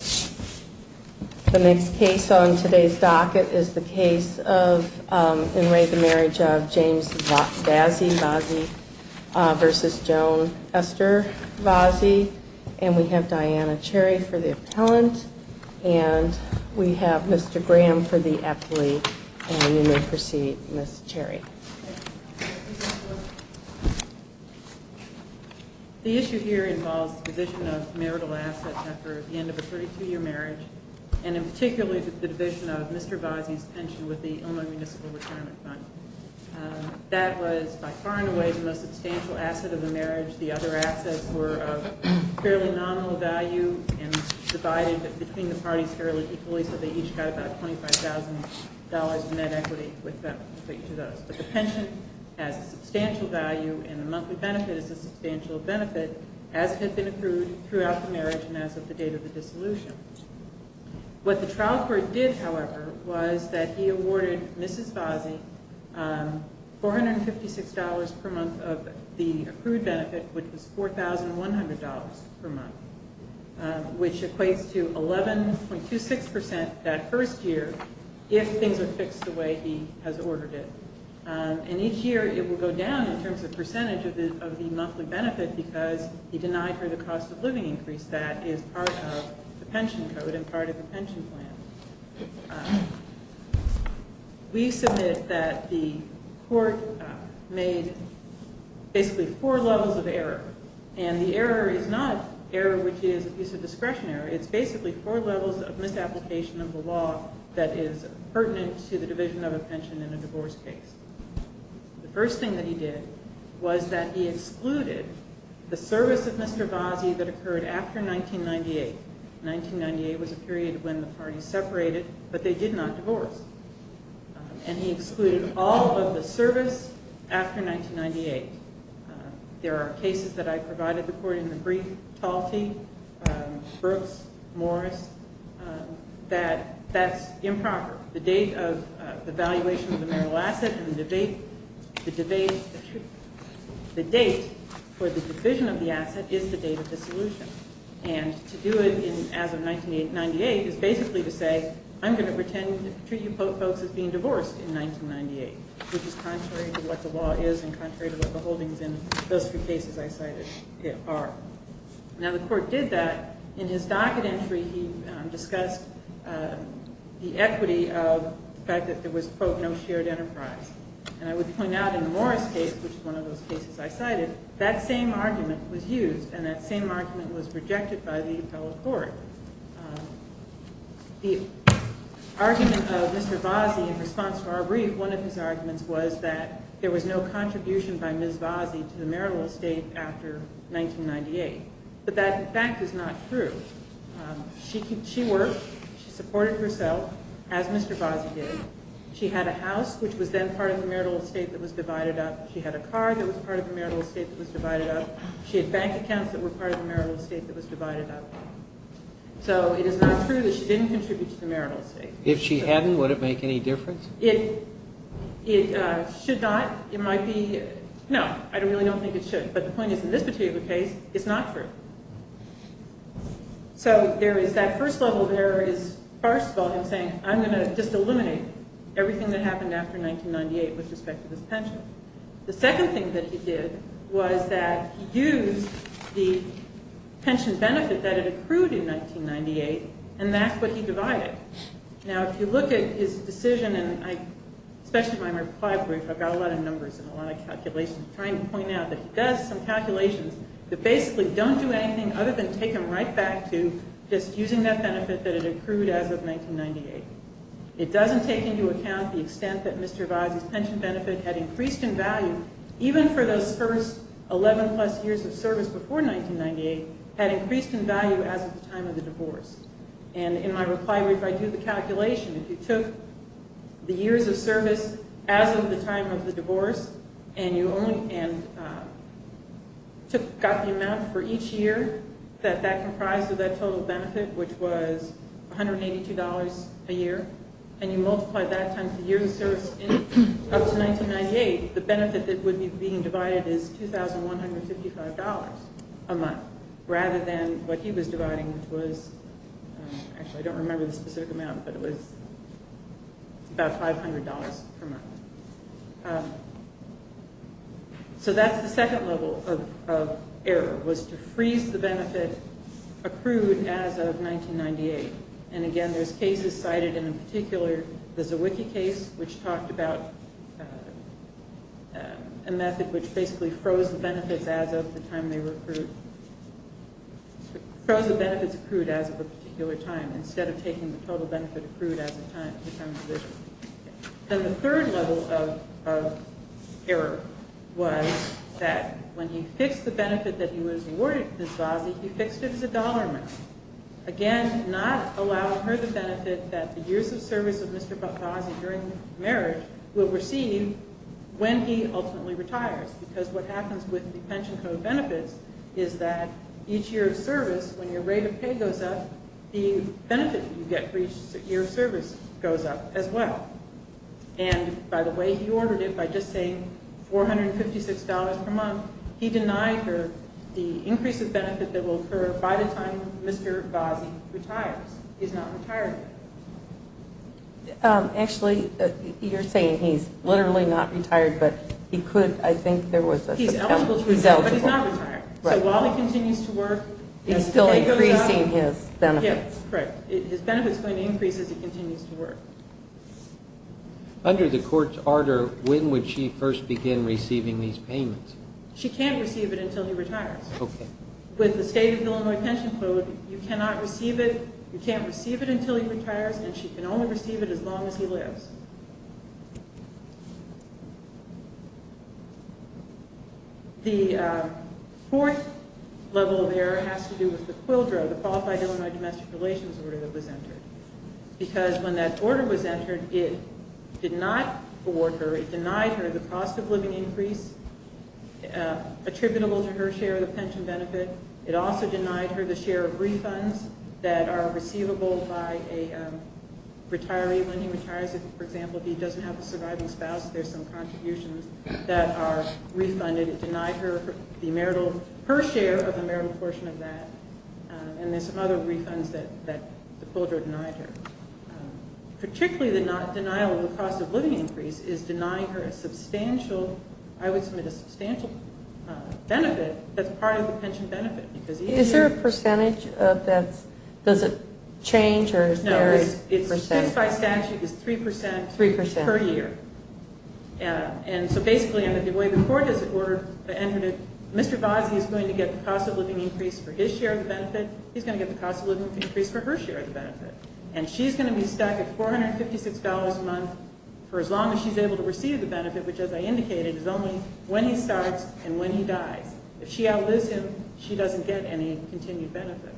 The next case on today's docket is the case of in re the marriage of James Vazzi vs. Joan Esther Vazzi and we have Diana Cherry for the appellant and we have Mr. Graham for the appellate and you may proceed Ms. Cherry. The issue here involves division of marital assets after the end of a 32 year marriage and in particular the division of Mr. Vazzi's pension with the Illinois Municipal Retirement Fund. That was by far and away the most substantial asset of the marriage. The other assets were of fairly nominal value and divided between the parties fairly equally so they each got about $25,000 in net equity with respect to those. But the pension has a substantial value and the monthly benefit is a substantial benefit as it had been approved throughout the marriage and as of the date of the dissolution. What the trial court did however was that he awarded Mrs. Vazzi $456 per month of the approved benefit which was $4,100 per month which equates to 11.26% that first year if things are fixed the way he has ordered it. And each year it will go down in terms of percentage of the monthly benefit because he denied her the cost of living increase that is part of the pension code and part of the pension plan. We submit that the court made basically four levels of error and the error is not error which is abuse of discretion error. It's basically four levels of misapplication of the law that is pertinent to the division of a pension in a divorce case. The first thing that he did was that he excluded the service of Mr. Vazzi that occurred after 1998. 1998 was a period when the parties separated but they did not divorce and he excluded all of the service after 1998. There are cases that I provided the court in the brief, Talty, Brooks, Morris, that that's improper. The date of the valuation of the marital asset and the debate, the debate, the date for the division of the asset is the date of the solution. And to do it as of 1998 is basically to say I'm going to pretend to treat you folks as being divorced in 1998 which is contrary to what the law is and contrary to what the holdings in those three cases I cited are. Now the court did that. In his docket entry he discussed the equity of the fact that there was, quote, no shared enterprise. And I would point out in the Morris case, which is one of those cases I cited, that same argument was used and that same argument was rejected by the appellate court. The argument of Mr. Vazzi in response to our brief, one of his arguments was that there was no contribution by Ms. Vazzi to the marital estate after 1998. But that in fact is not true. She worked. She supported herself as Mr. Vazzi did. She had a house which was then part of the marital estate that was divided up. She had a car that was part of the marital estate that was divided up. She had bank accounts that were part of the marital estate that was divided up. So it is not true that she didn't contribute to the marital estate. If she hadn't, would it make any difference? It should not. It might be. No, I really don't think it should. But the point is in this particular case, it's not true. So there is that first level of error is, first of all, him saying I'm going to just eliminate everything that happened after 1998 with respect to this pension. The second thing that he did was that he used the pension benefit that had accrued in 1998, and that's what he divided. Now, if you look at his decision, and especially my reply brief, I've got a lot of numbers and a lot of calculations, trying to point out that he does some calculations that basically don't do anything other than take him right back to just using that benefit that had accrued as of 1998. It doesn't take into account the extent that Mr. Visey's pension benefit had increased in value, even for those first 11 plus years of service before 1998, had increased in value as of the time of the divorce. And in my reply brief, I do the calculation. If you took the years of service as of the time of the divorce, and you only – and took – got the amount for each year that that comprised of that total benefit, which was $182 a year, and you multiply that times the years of service up to 1998, the benefit that would be being divided is $2,155 a month, rather than what he was dividing, which was $182. Actually, I don't remember the specific amount, but it was about $500 per month. So that's the second level of error, was to freeze the benefit accrued as of 1998. And again, there's cases cited, and in particular, there's a wiki case which talked about a method which basically froze the benefits as of the time they were accrued – froze the benefits accrued as of a particular time, instead of taking the total benefit accrued as of the time of the divorce. And the third level of error was that when he fixed the benefit that he was awarded to Ms. Vasey, he fixed it as a dollar amount, again, not allowing her the benefit that the years of service of Mr. Vasey during marriage will receive when he ultimately retires. Because what happens with the pension code benefits is that each year of service, when your rate of pay goes up, the benefit you get for each year of service goes up as well. And by the way, he ordered it by just saying $456 per month. He denied her the increase of benefit that will occur by the time Mr. Vasey retires. He's not retired yet. Actually, you're saying he's literally not retired, but he could – I think there was – He's eligible to retire, but he's not retired. So while he continues to work – He's still increasing his benefits. Yeah, correct. His benefit's going to increase as he continues to work. Under the court's order, when would she first begin receiving these payments? She can't receive it until he retires. Okay. With the state of Illinois pension code, you cannot receive it – you can't receive it until he retires, and she can only receive it as long as he lives. The fourth level of error has to do with the QUILDRO, the Qualified Illinois Domestic Relations order that was entered. Because when that order was entered, it did not award her – it denied her the cost of living increase attributable to her share of the pension benefit. It also denied her the share of refunds that are receivable by a retiree when he retires. For example, if he doesn't have a surviving spouse, there's some contributions that are refunded. It denied her the marital – her share of the marital portion of that, and there's some other refunds that the QUILDRO denied her. Particularly the denial of the cost of living increase is denying her a substantial – I would submit a substantial benefit that's part of the pension benefit. Is there a percentage of that – does it change, or is there a percent? No, it's – just by statute, it's 3 percent per year. 3 percent. And so basically, under the way the court has ordered – Mr. Vazie is going to get the cost of living increase for his share of the benefit. He's going to get the cost of living increase for her share of the benefit. And she's going to be stuck at $456 a month for as long as she's able to receive the benefit, which, as I indicated, is only when he starts and when he dies. If she outlives him, she doesn't get any continued benefit.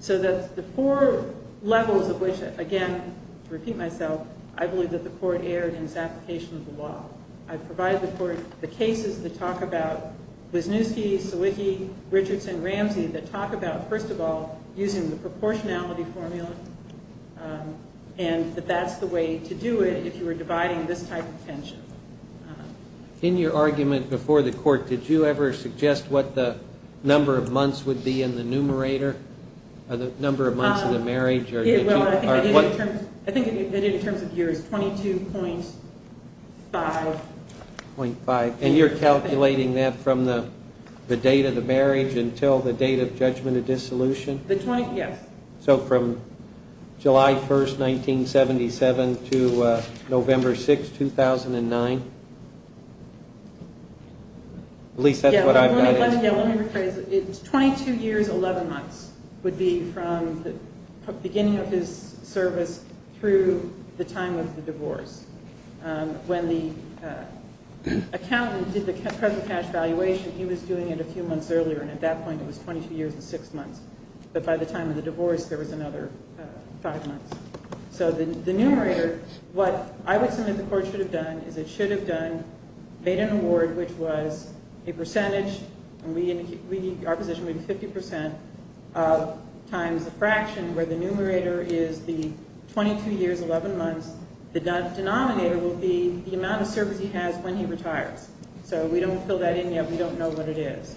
So that's the four levels of which, again, to repeat myself, I believe that the court erred in its application of the law. I've provided the court the cases that talk about Wisniewski, Sawicki, Richardson, Ramsey that talk about, first of all, using the proportionality formula and that that's the way to do it if you were dividing this type of pension. In your argument before the court, did you ever suggest what the number of months would be in the numerator, or the number of months of the marriage? I think I did it in terms of years, 22.5. And you're calculating that from the date of the marriage until the date of judgment of dissolution? Yes. So from July 1, 1977 to November 6, 2009? At least that's what I've got. Let me rephrase it. It's 22 years, 11 months would be from the beginning of his service through the time of the divorce. When the accountant did the present cash valuation, he was doing it a few months earlier, and at that point it was 22 years and 6 months. But by the time of the divorce, there was another 5 months. So the numerator, what I would submit the court should have done is it should have made an award which was a percentage, and our position would be 50% times the fraction where the numerator is the 22 years, 11 months. The denominator would be the amount of service he has when he retires. So we don't fill that in yet. We don't know what it is.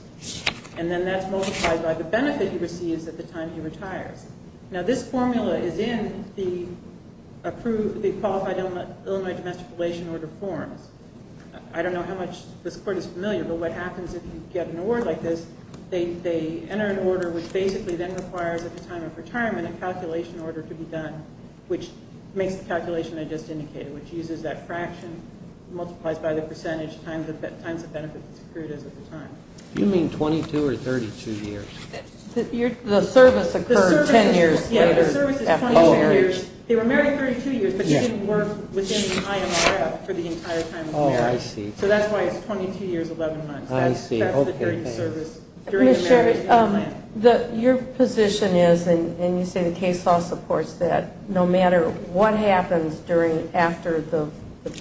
And then that's multiplied by the benefit he receives at the time he retires. Now, this formula is in the qualified Illinois domestic relation order forms. I don't know how much this court is familiar, but what happens if you get an award like this, they enter an order which basically then requires at the time of retirement a calculation order to be done, which makes the calculation I just indicated, which uses that fraction, multiplies by the percentage times the benefit that's accrued at the time. You mean 22 or 32 years? The service occurred. Ten years later. Yeah, the service is 22 years. They were married 32 years, but he didn't work within the IMRF for the entire time of marriage. Oh, I see. So that's why it's 22 years, 11 months. I see. That's the period of service during the marriage. Ms. Sherry, your position is, and you say the case law supports that, no matter what happens after the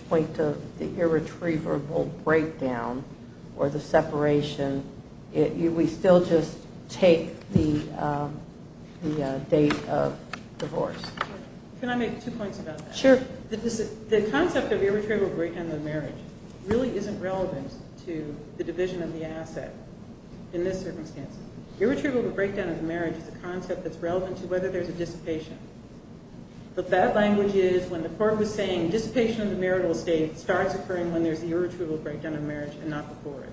point of the irretrievable breakdown or the separation, we still just take the date of divorce. Can I make two points about that? Sure. The concept of irretrievable breakdown of the marriage really isn't relevant to the division of the asset in this circumstance. Irretrievable breakdown of the marriage is a concept that's relevant to whether there's a dissipation. But that language is when the court was saying dissipation of the marital estate starts occurring when there's the irretrievable breakdown of the marriage and not before it.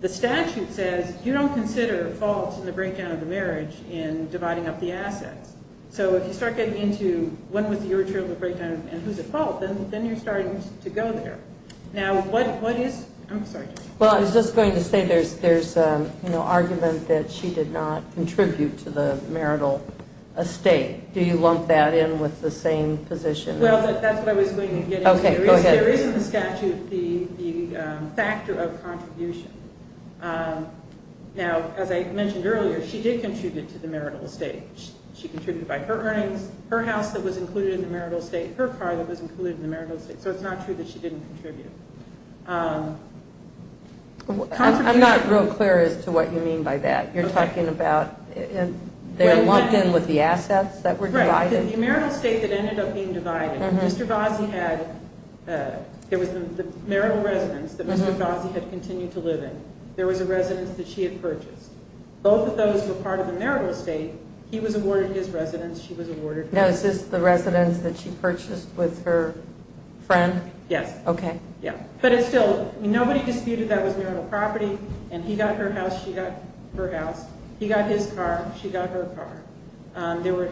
The statute says you don't consider faults in the breakdown of the marriage in dividing up the assets. So if you start getting into when was the irretrievable breakdown and who's at fault, then you're starting to go there. Now, what is – I'm sorry. Well, I was just going to say there's an argument that she did not contribute to the marital estate. Do you lump that in with the same position? Well, that's what I was going to get into. There is in the statute the factor of contribution. Now, as I mentioned earlier, she did contribute to the marital estate. She contributed by her earnings, her house that was included in the marital estate, her car that was included in the marital estate. So it's not true that she didn't contribute. I'm not real clear as to what you mean by that. You're talking about they're lumped in with the assets that were divided? The marital estate that ended up being divided, Mr. Vazie had – there was the marital residence that Mr. Vazie had continued to live in. There was a residence that she had purchased. Both of those were part of the marital estate. He was awarded his residence. She was awarded hers. Now, is this the residence that she purchased with her friend? Yes. Okay. Yeah. But it's still – nobody disputed that was marital property. And he got her house. She got her house. He got his car. She got her car. There were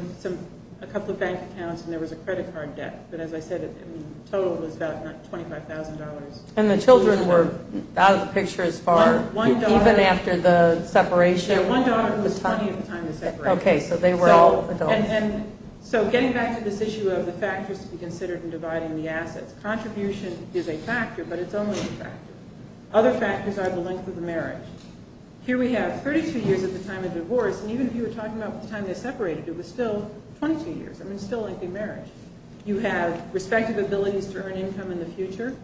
a couple of bank accounts, and there was a credit card debt. But as I said, the total was about $25,000. And the children were out of the picture as far, even after the separation? Yeah, one daughter was 20 at the time of the separation. Okay. So they were all adults. And so getting back to this issue of the factors to be considered in dividing the assets, contribution is a factor, but it's only a factor. Other factors are the length of the marriage. Here we have 32 years at the time of the divorce. And even if you were talking about the time they separated, it was still 22 years. I mean, it's still length of marriage. You have respective abilities to earn income in the future.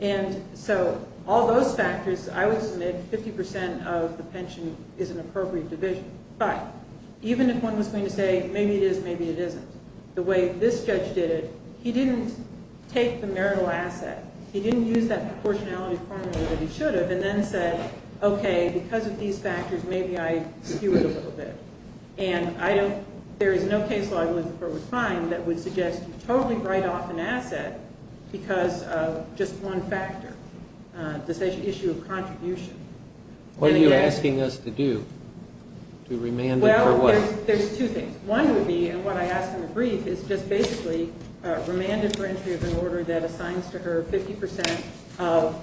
And so all those factors – I would submit 50 percent of the pension is an appropriate division. But even if one was going to say, maybe it is, maybe it isn't, the way this judge did it, he didn't take the marital asset. He didn't use that proportionality formula that he should have and then said, okay, because of these factors, maybe I skew it a little bit. And I don't – there is no case law I would find that would suggest you totally write off an asset because of just one factor, the issue of contribution. What are you asking us to do? To remand it for what? Well, there's two things. One would be – and what I ask in the brief is just basically remanded for entry of an order that assigns to her 50 percent of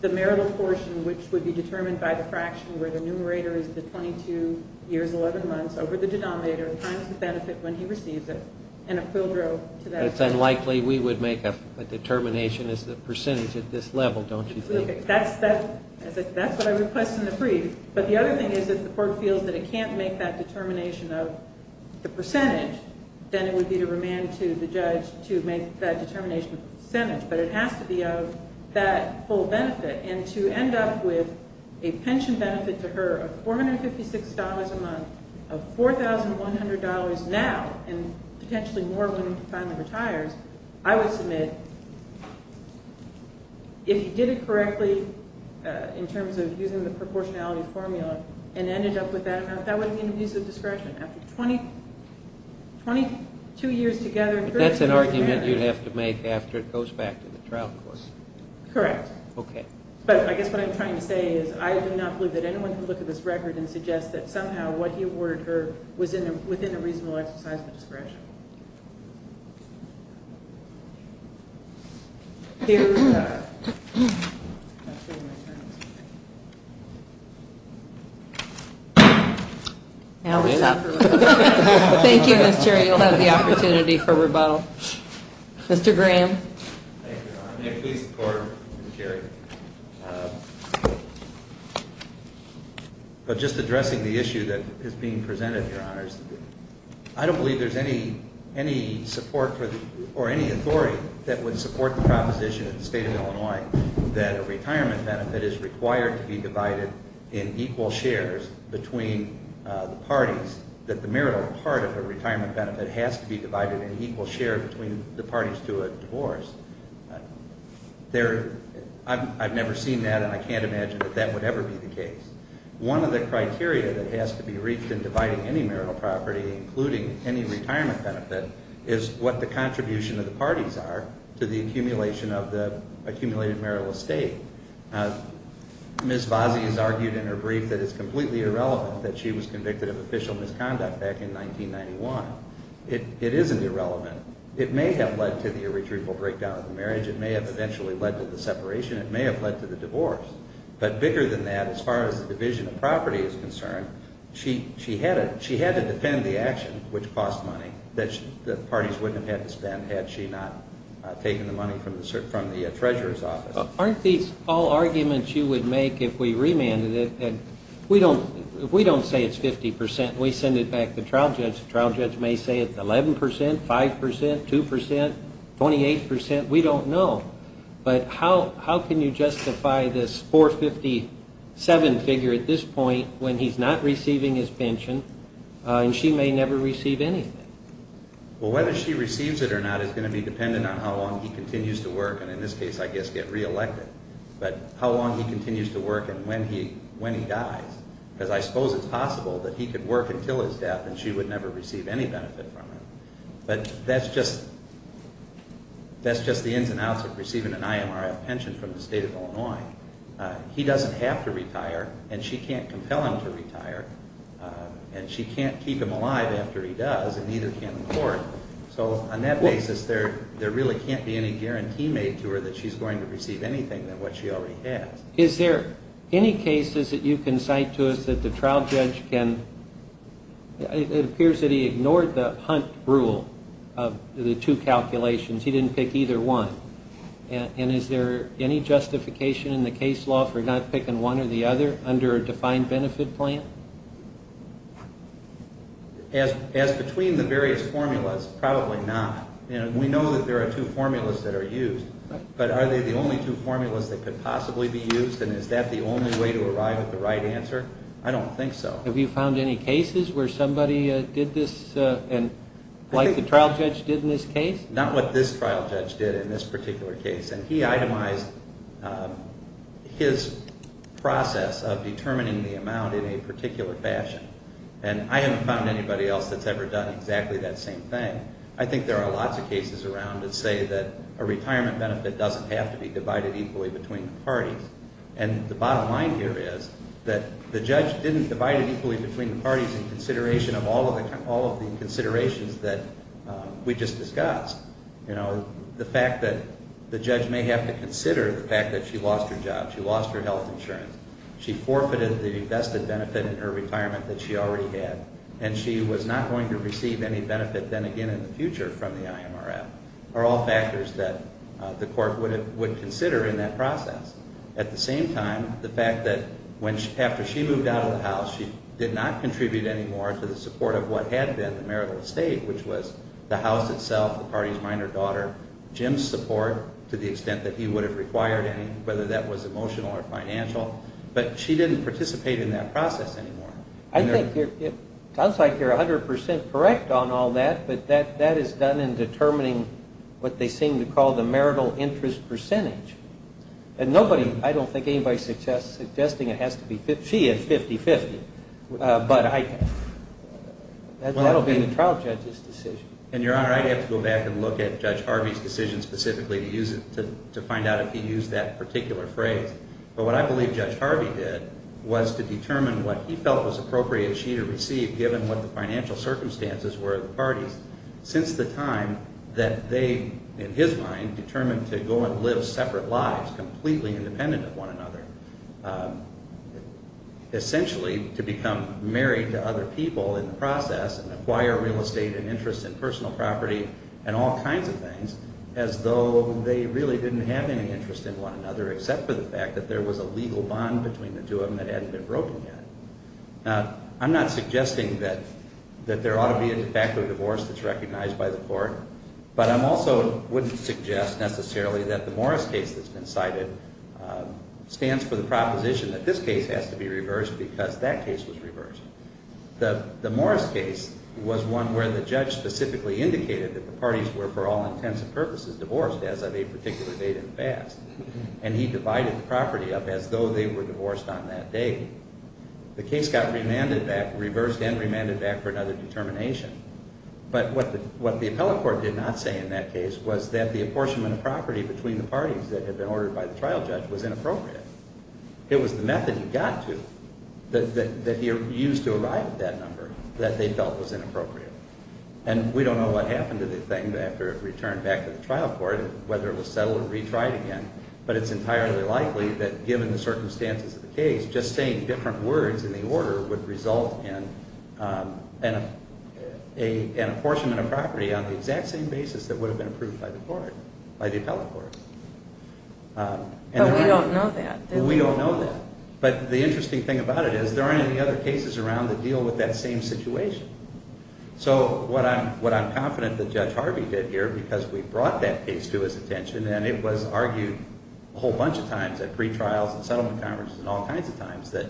the marital portion, which would be determined by the fraction where the numerator is the 22 years, 11 months over the denominator, times the benefit when he receives it, and a quid pro to that. But it's unlikely we would make a determination as the percentage at this level, don't you think? That's what I request in the brief. But the other thing is if the court feels that it can't make that determination of the percentage, then it would be to remand to the judge to make that determination of the percentage. But it has to be of that full benefit. And to end up with a pension benefit to her of $456 a month, of $4,100 now and potentially more when he finally retires, I would submit if he did it correctly in terms of using the proportionality formula and ended up with that amount, that would be an abuse of discretion. After 22 years together in court. But that's an argument you'd have to make after it goes back to the trial court. Correct. Okay. But I guess what I'm trying to say is I do not believe that anyone can look at this record and suggest that somehow what he awarded her was within a reasonable exercise of discretion. Thank you. Now it's up. Thank you, Ms. Cherry. You'll have the opportunity for rebuttal. Mr. Graham. Thank you, Your Honor. May it please the court, Ms. Cherry. But just addressing the issue that is being presented, Your Honors, I don't believe there's any support or any authority that would support the proposition at the State of Illinois that a retirement benefit is required to be divided in equal shares between the parties, that the marital part of the retirement benefit has to be divided in equal share between the parties to a divorce. I've never seen that and I can't imagine that that would ever be the case. One of the criteria that has to be reached in dividing any marital property, including any retirement benefit, is what the contribution of the parties are to the accumulation of the accumulated marital estate. Ms. Vazie has argued in her brief that it's completely irrelevant that she was convicted of official misconduct back in 1991. It isn't irrelevant. It may have led to the irretrievable breakdown of the marriage. It may have eventually led to the separation. It may have led to the divorce. But bigger than that, as far as the division of property is concerned, she had to defend the action, which cost money, that the parties wouldn't have had to spend had she not taken the money from the treasurer's office. Aren't these all arguments you would make if we remanded it? If we don't say it's 50 percent and we send it back to the trial judge, the trial judge may say it's 11 percent, 5 percent, 2 percent, 28 percent. We don't know. But how can you justify this 457 figure at this point when he's not receiving his pension and she may never receive anything? Well, whether she receives it or not is going to be dependent on how long he continues to work and in this case, I guess, get reelected. But how long he continues to work and when he dies, because I suppose it's possible that he could work until his death and she would never receive any benefit from him. But that's just the ins and outs of receiving an IMRF pension from the state of Illinois. He doesn't have to retire and she can't compel him to retire and she can't keep him alive after he does and neither can the court. So on that basis, there really can't be any guarantee made to her that she's going to receive anything than what she already has. Is there any cases that you can cite to us that the trial judge can, it appears that he ignored the Hunt rule of the two calculations. He didn't pick either one. And is there any justification in the case law for not picking one or the other under a defined benefit plan? As between the various formulas, probably not. We know that there are two formulas that are used. But are they the only two formulas that could possibly be used and is that the only way to arrive at the right answer? I don't think so. Have you found any cases where somebody did this like the trial judge did in this case? Not what this trial judge did in this particular case. And he itemized his process of determining the amount in a particular fashion. And I haven't found anybody else that's ever done exactly that same thing. I think there are lots of cases around that say that a retirement benefit doesn't have to be divided equally between the parties. And the bottom line here is that the judge didn't divide it equally between the parties in consideration of all of the considerations that we just discussed. You know, the fact that the judge may have to consider the fact that she lost her job, she lost her health insurance, she forfeited the vested benefit in her retirement that she already had, and she was not going to receive any benefit then again in the future from the IMRF are all factors that the court would consider in that process. At the same time, the fact that after she moved out of the house she did not contribute any more to the support of what had been the marital estate, which was the house itself, the party's minor daughter, Jim's support to the extent that he would have required any, whether that was emotional or financial. But she didn't participate in that process anymore. I think it sounds like you're 100% correct on all that, but that is done in determining what they seem to call the marital interest percentage. And nobody, I don't think anybody suggests, suggesting it has to be 50, she had 50-50, but I think that will be the trial judge's decision. And, Your Honor, I'd have to go back and look at Judge Harvey's decision specifically to find out if he used that particular phrase. But what I believe Judge Harvey did was to determine what he felt was appropriate she to receive given what the financial circumstances were of the parties since the time that they, in his mind, determined to go and live separate lives, completely independent of one another. Essentially to become married to other people in the process and acquire real estate and interest in personal property and all kinds of things, as though they really didn't have any interest in one another except for the fact that there was a legal bond between the two of them that hadn't been broken yet. Now, I'm not suggesting that there ought to be a de facto divorce that's recognized by the court, but I also wouldn't suggest necessarily that the Morris case that's been cited stands for the proposition that this case has to be reversed because that case was reversed. The Morris case was one where the judge specifically indicated that the parties were for all intents and purposes divorced as of a particular date and fast. And he divided the property up as though they were divorced on that day. The case got remanded back, reversed and remanded back for another determination. But what the appellate court did not say in that case was that the apportionment of property between the parties that had been ordered by the trial judge was inappropriate. It was the method he got to that he used to arrive at that number that they felt was inappropriate. And we don't know what happened to the thing after it returned back to the trial court, whether it was settled or retried again, but it's entirely likely that, given the circumstances of the case, just saying different words in the order would result in an apportionment of property on the exact same basis that would have been approved by the court, by the appellate court. But we don't know that. We don't know that. But the interesting thing about it is there aren't any other cases around that deal with that same situation. So what I'm confident that Judge Harvey did here because we brought that case to his attention and it was argued a whole bunch of times at pretrials and settlement conferences and all kinds of times that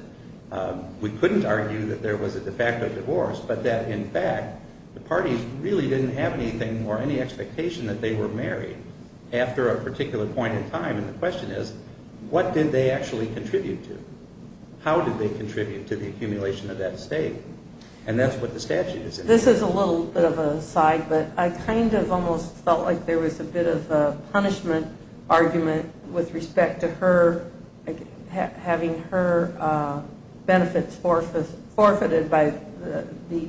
we couldn't argue that there was a de facto divorce but that, in fact, the parties really didn't have anything or any expectation that they were married after a particular point in time. And the question is, what did they actually contribute to? How did they contribute to the accumulation of that estate? And that's what the statute is. This is a little bit of an aside, but I kind of almost felt like there was a bit of a punishment argument with respect to her having her benefits forfeited by the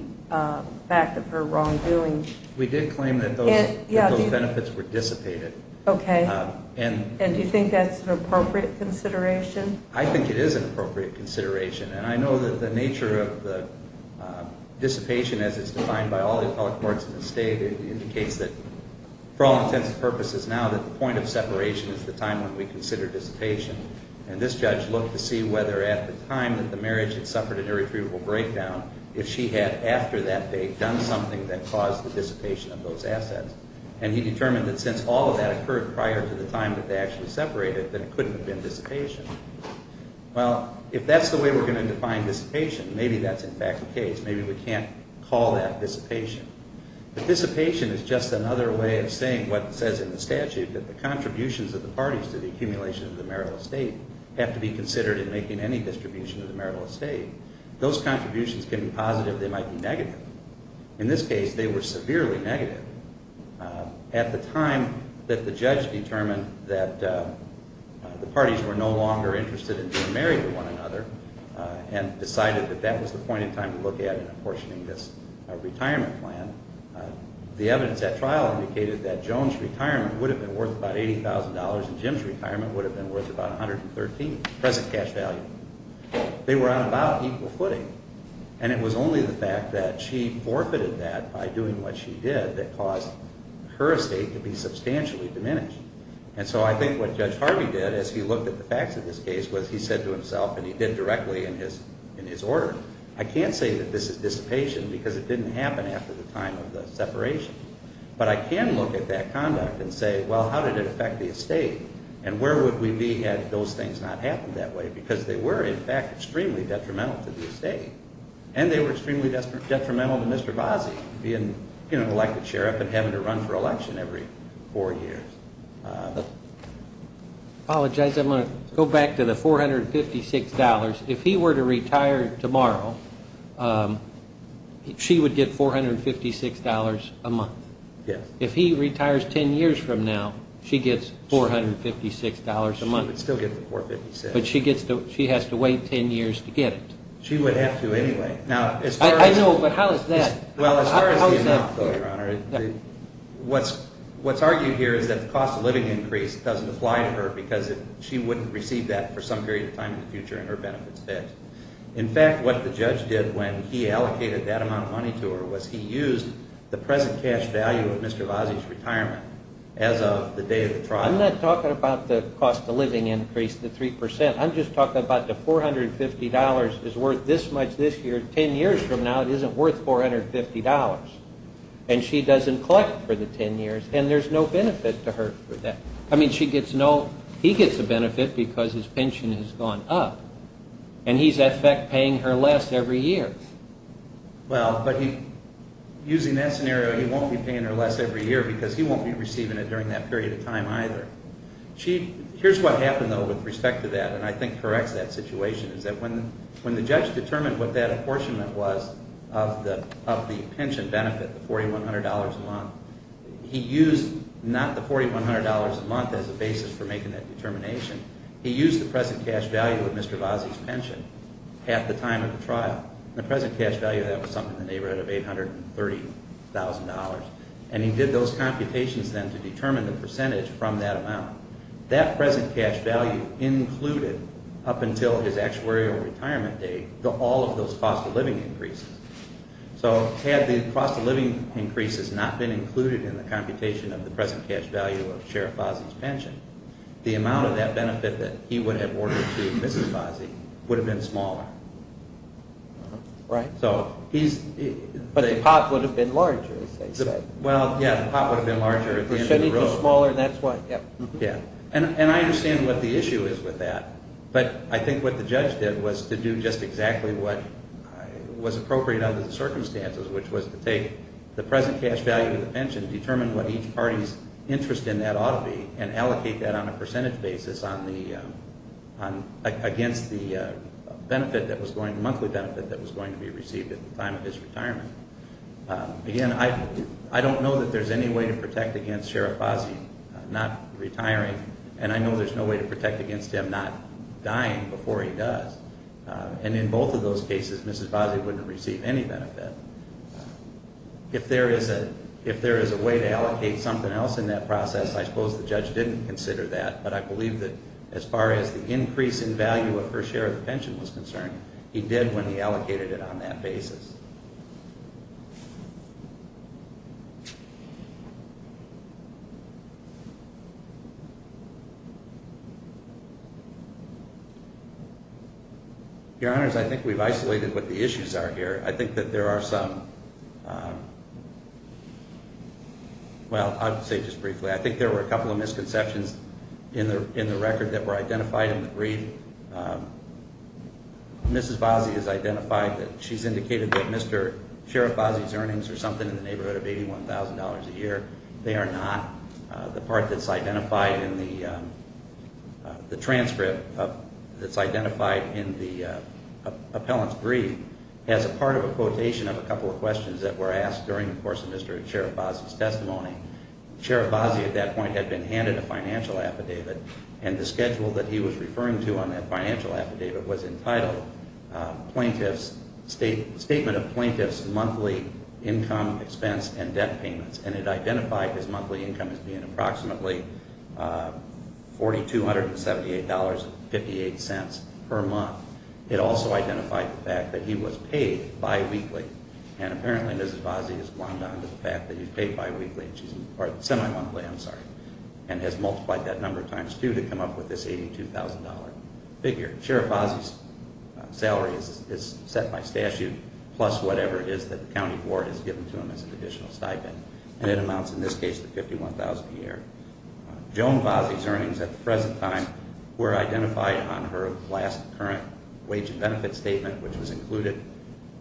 fact of her wrongdoing. We did claim that those benefits were dissipated. And do you think that's an appropriate consideration? I think it is an appropriate consideration. And I know that the nature of the dissipation as it's defined by all the appellate courts in the state indicates that, for all intents and purposes now, that the point of separation is the time when we consider dissipation. And this judge looked to see whether at the time that the marriage had suffered an irretrievable breakdown, if she had, after that date, done something that caused the dissipation of those assets. And he determined that since all of that occurred prior to the time that they actually separated, then it couldn't have been dissipation. Well, if that's the way we're going to define dissipation, maybe that's in fact the case. Maybe we can't call that dissipation. But dissipation is just another way of saying what it says in the statute that the contributions of the parties to the accumulation of the marital estate have to be considered in making any distribution of the marital estate. Those contributions can be positive. They might be negative. In this case, they were severely negative. At the time that the judge determined that the parties were no longer interested in being married to one another, and decided that that was the point in time to look at in apportioning this retirement plan, the evidence at trial indicated that Joan's retirement would have been worth about $80,000 and Jim's retirement would have been worth about $113,000, present cash value. They were on about equal footing. And it was only the fact that she forfeited that by doing what she did that caused her estate to be substantially diminished. And so I think what Judge Harvey did as he looked at the facts of this case was he said to himself and he did directly in his order, I can't say that this is dissipation because it didn't happen after the time of the separation. But I can look at that conduct and say, well, how did it affect the estate? And where would we be had those things not happened that way? Because they were, in fact, extremely detrimental to the estate. And they were extremely detrimental to Mr. Vasey being an elected sheriff and having to run for election every four years. Apologize. I'm going to go back to the $456. If he were to retire tomorrow, she would get $456 a month. Yes. If he retires 10 years from now, she gets $456 a month. She would still get the $456. But she has to wait 10 years to get it. She would have to anyway. I know, but how is that? Well, as far as the amount, though, Your Honor, what's argued here is that the cost of living increase doesn't apply to her because she wouldn't receive that for some period of time in the future in her benefits tax. In fact, what the judge did when he allocated that amount of money to her was he used the present cash value of Mr. Vasey's retirement as of the day of the trial. I'm not talking about the cost of living increase, the 3%. I'm just talking about the $450 is worth this much this year. 10 years from now, it isn't worth $450. And she doesn't collect for the 10 years. And there's no benefit to her for that. He gets a benefit because his pension has gone up. And he's, in effect, paying her less every year. Well, but he, using that scenario, he won't be paying her less every year because he won't be receiving it during that period of time either. Here's what happened, though, with respect to that, and I think corrects that situation, is that when the judge determined what that apportionment was of the pension benefit, the $4,100 a month, he used not the $4,100 a month as a basis for making that determination. He used the present cash value of Mr. Vazzi's pension at the time of the trial. The present cash value of that was something in the neighborhood of $830,000. And he did those computations then to determine the percentage from that amount. That present cash value included up until his actuarial retirement date, all of those cost of living increases. So had the cost of living increases not been included in the computation of the present cash value of Sheriff Vazzi's pension, the amount of that benefit that he would have ordered to Mrs. Vazzi would have been smaller. Right. But the pot would have been larger, as they said. Well, yeah, the pot would have been larger at the end of the road. It should have been smaller, and that's why. Yeah. And I understand what the issue is with that, but I think what the judge did was to do just exactly what was appropriate under the circumstances, which was to take the present cash value of the pension, determine what each party's interest in that ought to be, and allocate that on a percentage basis against the monthly benefit that was going to be received at the time of his retirement. Again, I don't know that there's any way to protect against Sheriff Vazzi not retiring, and I know there's no way to protect against him not dying before he does. And in both of those cases, Mrs. Vazzi wouldn't receive any benefit. If there is a way to allocate something else in that process, I suppose the judge didn't consider that, but I believe that as far as the increase in value of her share of the pension was concerned, he did when he allocated it on that basis. Your Honors, I think we've isolated what the issues are here. I think that there are some well, I'll say just briefly, I think there were a couple of misconceptions in the record that were identified in the brief. Mrs. Vazzi has identified that she's indicated that Mr. Sheriff Vazzi's earnings are something in the neighborhood of $81,000 a year. They are not. The part that's identified in the transcript that's identified in the appellant's brief has a part of a quotation of a couple of questions that were asked during the course of Mr. Sheriff Vazzi's testimony. Sheriff Vazzi at that point had been handed a financial affidavit and the schedule that he was referring to on that financial affidavit was entitled plaintiff's statement of plaintiff's monthly income, expense, and debt payments and it identified his monthly income as being approximately $4,278.58 per month. It also identified the fact that he was paid bi-weekly and apparently Mrs. Vazzi has glommed on to the fact that he's paid semi-monthly and has multiplied that number times two to come up with this $82,000 figure. Sheriff Vazzi's salary is set by statute plus whatever is that the county board has given to him as an additional stipend and it amounts in this case to $51,000 a year. Joan Vazzi's earnings at the present time were identified on her last current wage and benefit statement which was included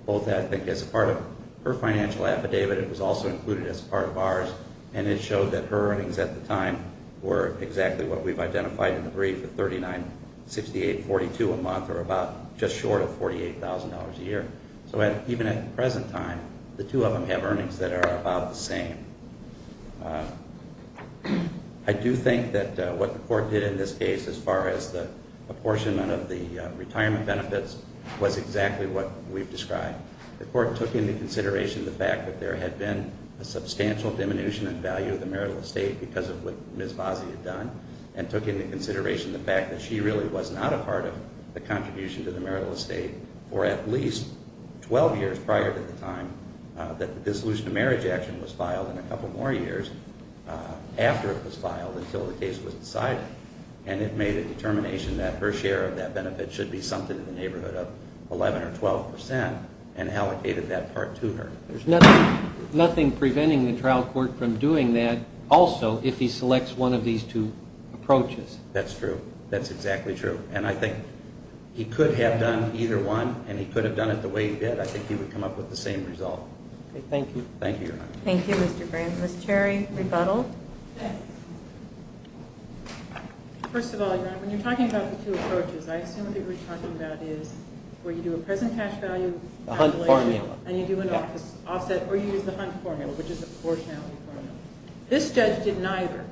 both I think as part of her financial affidavit it was also included as part of ours and it showed that her earnings at the time were exactly what we've identified in the brief of $39,6842 a month or about just short of $48,000 a year. So even at the present time the two of them have earnings that are about the same. I do think that what the court did in this case as far as the apportionment of the retirement benefits was exactly what we've described. The court took into consideration the fact that there had been a substantial diminution in value of the marital estate because of what Ms. Vazzi had done and took into consideration the fact that she really was not a part of the contribution to the marital estate for at least 12 years prior to the time that the dissolution of marriage action was filed in a couple more years after it was filed until the case was decided and it made a determination that her share of that benefit should be summed to the neighborhood of 11 or 12 percent and allocated that part to her. There's nothing preventing the trial court from doing that also if he selects one of these two approaches. That's true. That's exactly true. And I think he could have done either one and he could have done it the way he did. I think he would come up with the same result. Thank you. Thank you. Thank you Mr. Brandt. Ms. Cherry Rebuttal. First of all, when you're talking about the two approaches I assume what you're talking about is where you do a present cash value and you do an offset or you use the Hunt formula which is a proportionality formula. This judge did neither.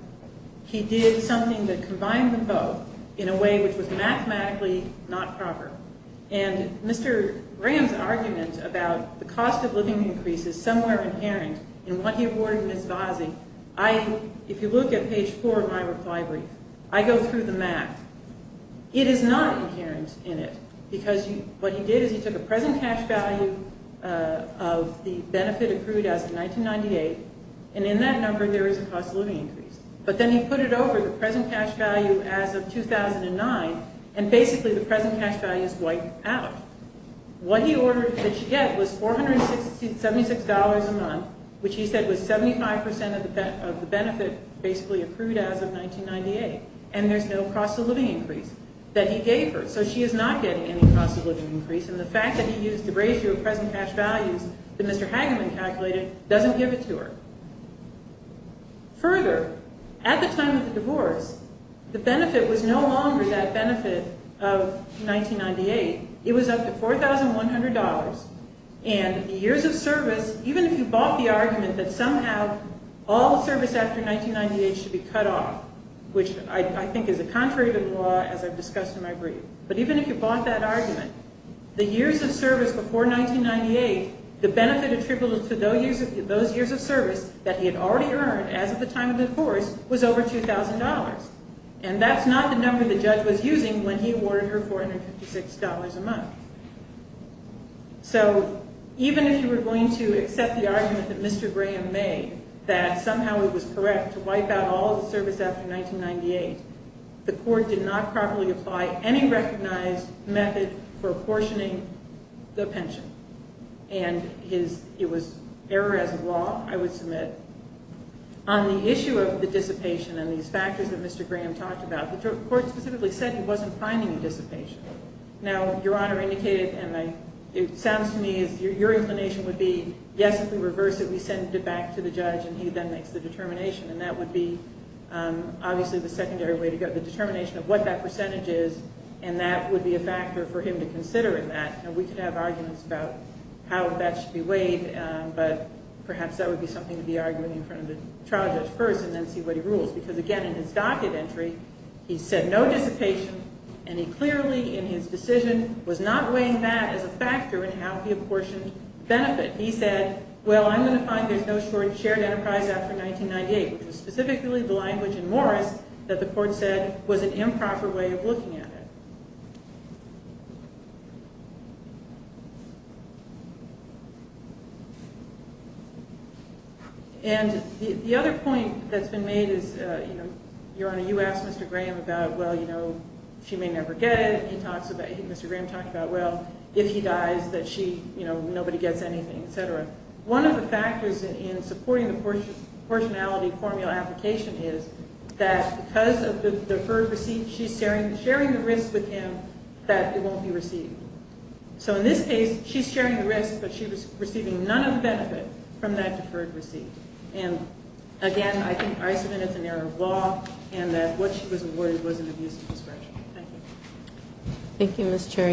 He did something that combined them both in a way which was mathematically not proper and Mr. Graham's argument about the cost of living increases somewhere inherent in what he awarded Ms. Vasey I, if you look at page 4 of my reply brief, I go through the math. It is not inherent in it because what he did is he took a present cash value of the benefit accrued as of 1998 and in that number there is a cost of living increase but then he put it over the present cash value as of 2009 and basically the present cash value is wiped out. What he ordered that she get was $476 a month which he said was 75% of the benefit basically accrued as of 1998 and there's no cost of living increase that he gave her. So she is not getting any cost of living increase and the fact that he used the ratio of present cash values that Mr. Hageman calculated doesn't give it to her. Further, at the time of the divorce the benefit was no longer that benefit of 1998. It was up to $1,100 and the years of service, even if you bought the argument that somehow all service after 1998 should be cut off which I think is contrary to the law as I've discussed in my brief but even if you bought that argument the years of service before 1998, the benefit attributable to those years of service that he had already earned as of the time of the divorce was over $2,000 and that's not the number the judge was using when he awarded her $456 a month. So even if you were going to accept the argument that Mr. Graham made that somehow it was correct to wipe out all the service after 1998, the court did not properly apply any recognized method for apportioning the pension and it was error as a law, I would submit. On the issue of the dissipation and these factors that Mr. Graham talked about, the court specifically said he wasn't applying any dissipation. Now Your Honor indicated and it sounds to me as your inclination would be yes if we reverse it, we send it back to the judge and he then makes the determination and that would be obviously the secondary way to go, the determination of what that percentage is and that would be a factor for him to consider in that and we could have arguments about how that should be weighed but perhaps that would be something to be argued in front of the trial judge first and then see what he rules because again in his docket entry he said no dissipation and he clearly in his decision was not weighing that as a factor in how the apportioned benefit he said well I'm going to find there's no shared enterprise after 1998 which was specifically the language in Morris that the court said was an improper way of looking at it. And the other point that's been made is Your Honor you asked Mr. Graham about well you know she may never get it and Mr. Graham talked about well if he dies that she you know nobody gets anything etc. One of the factors in supporting the proportionality formula application is that because of the deferred receipt she's sharing the risk with him that it won't be received. So in this case she's sharing the risk but she was receiving none of the benefit from that deferred receipt and again I submit it's an error of law and that what she was awarded was an abuse of discretion. Thank you. Thank you Ms. Cherry.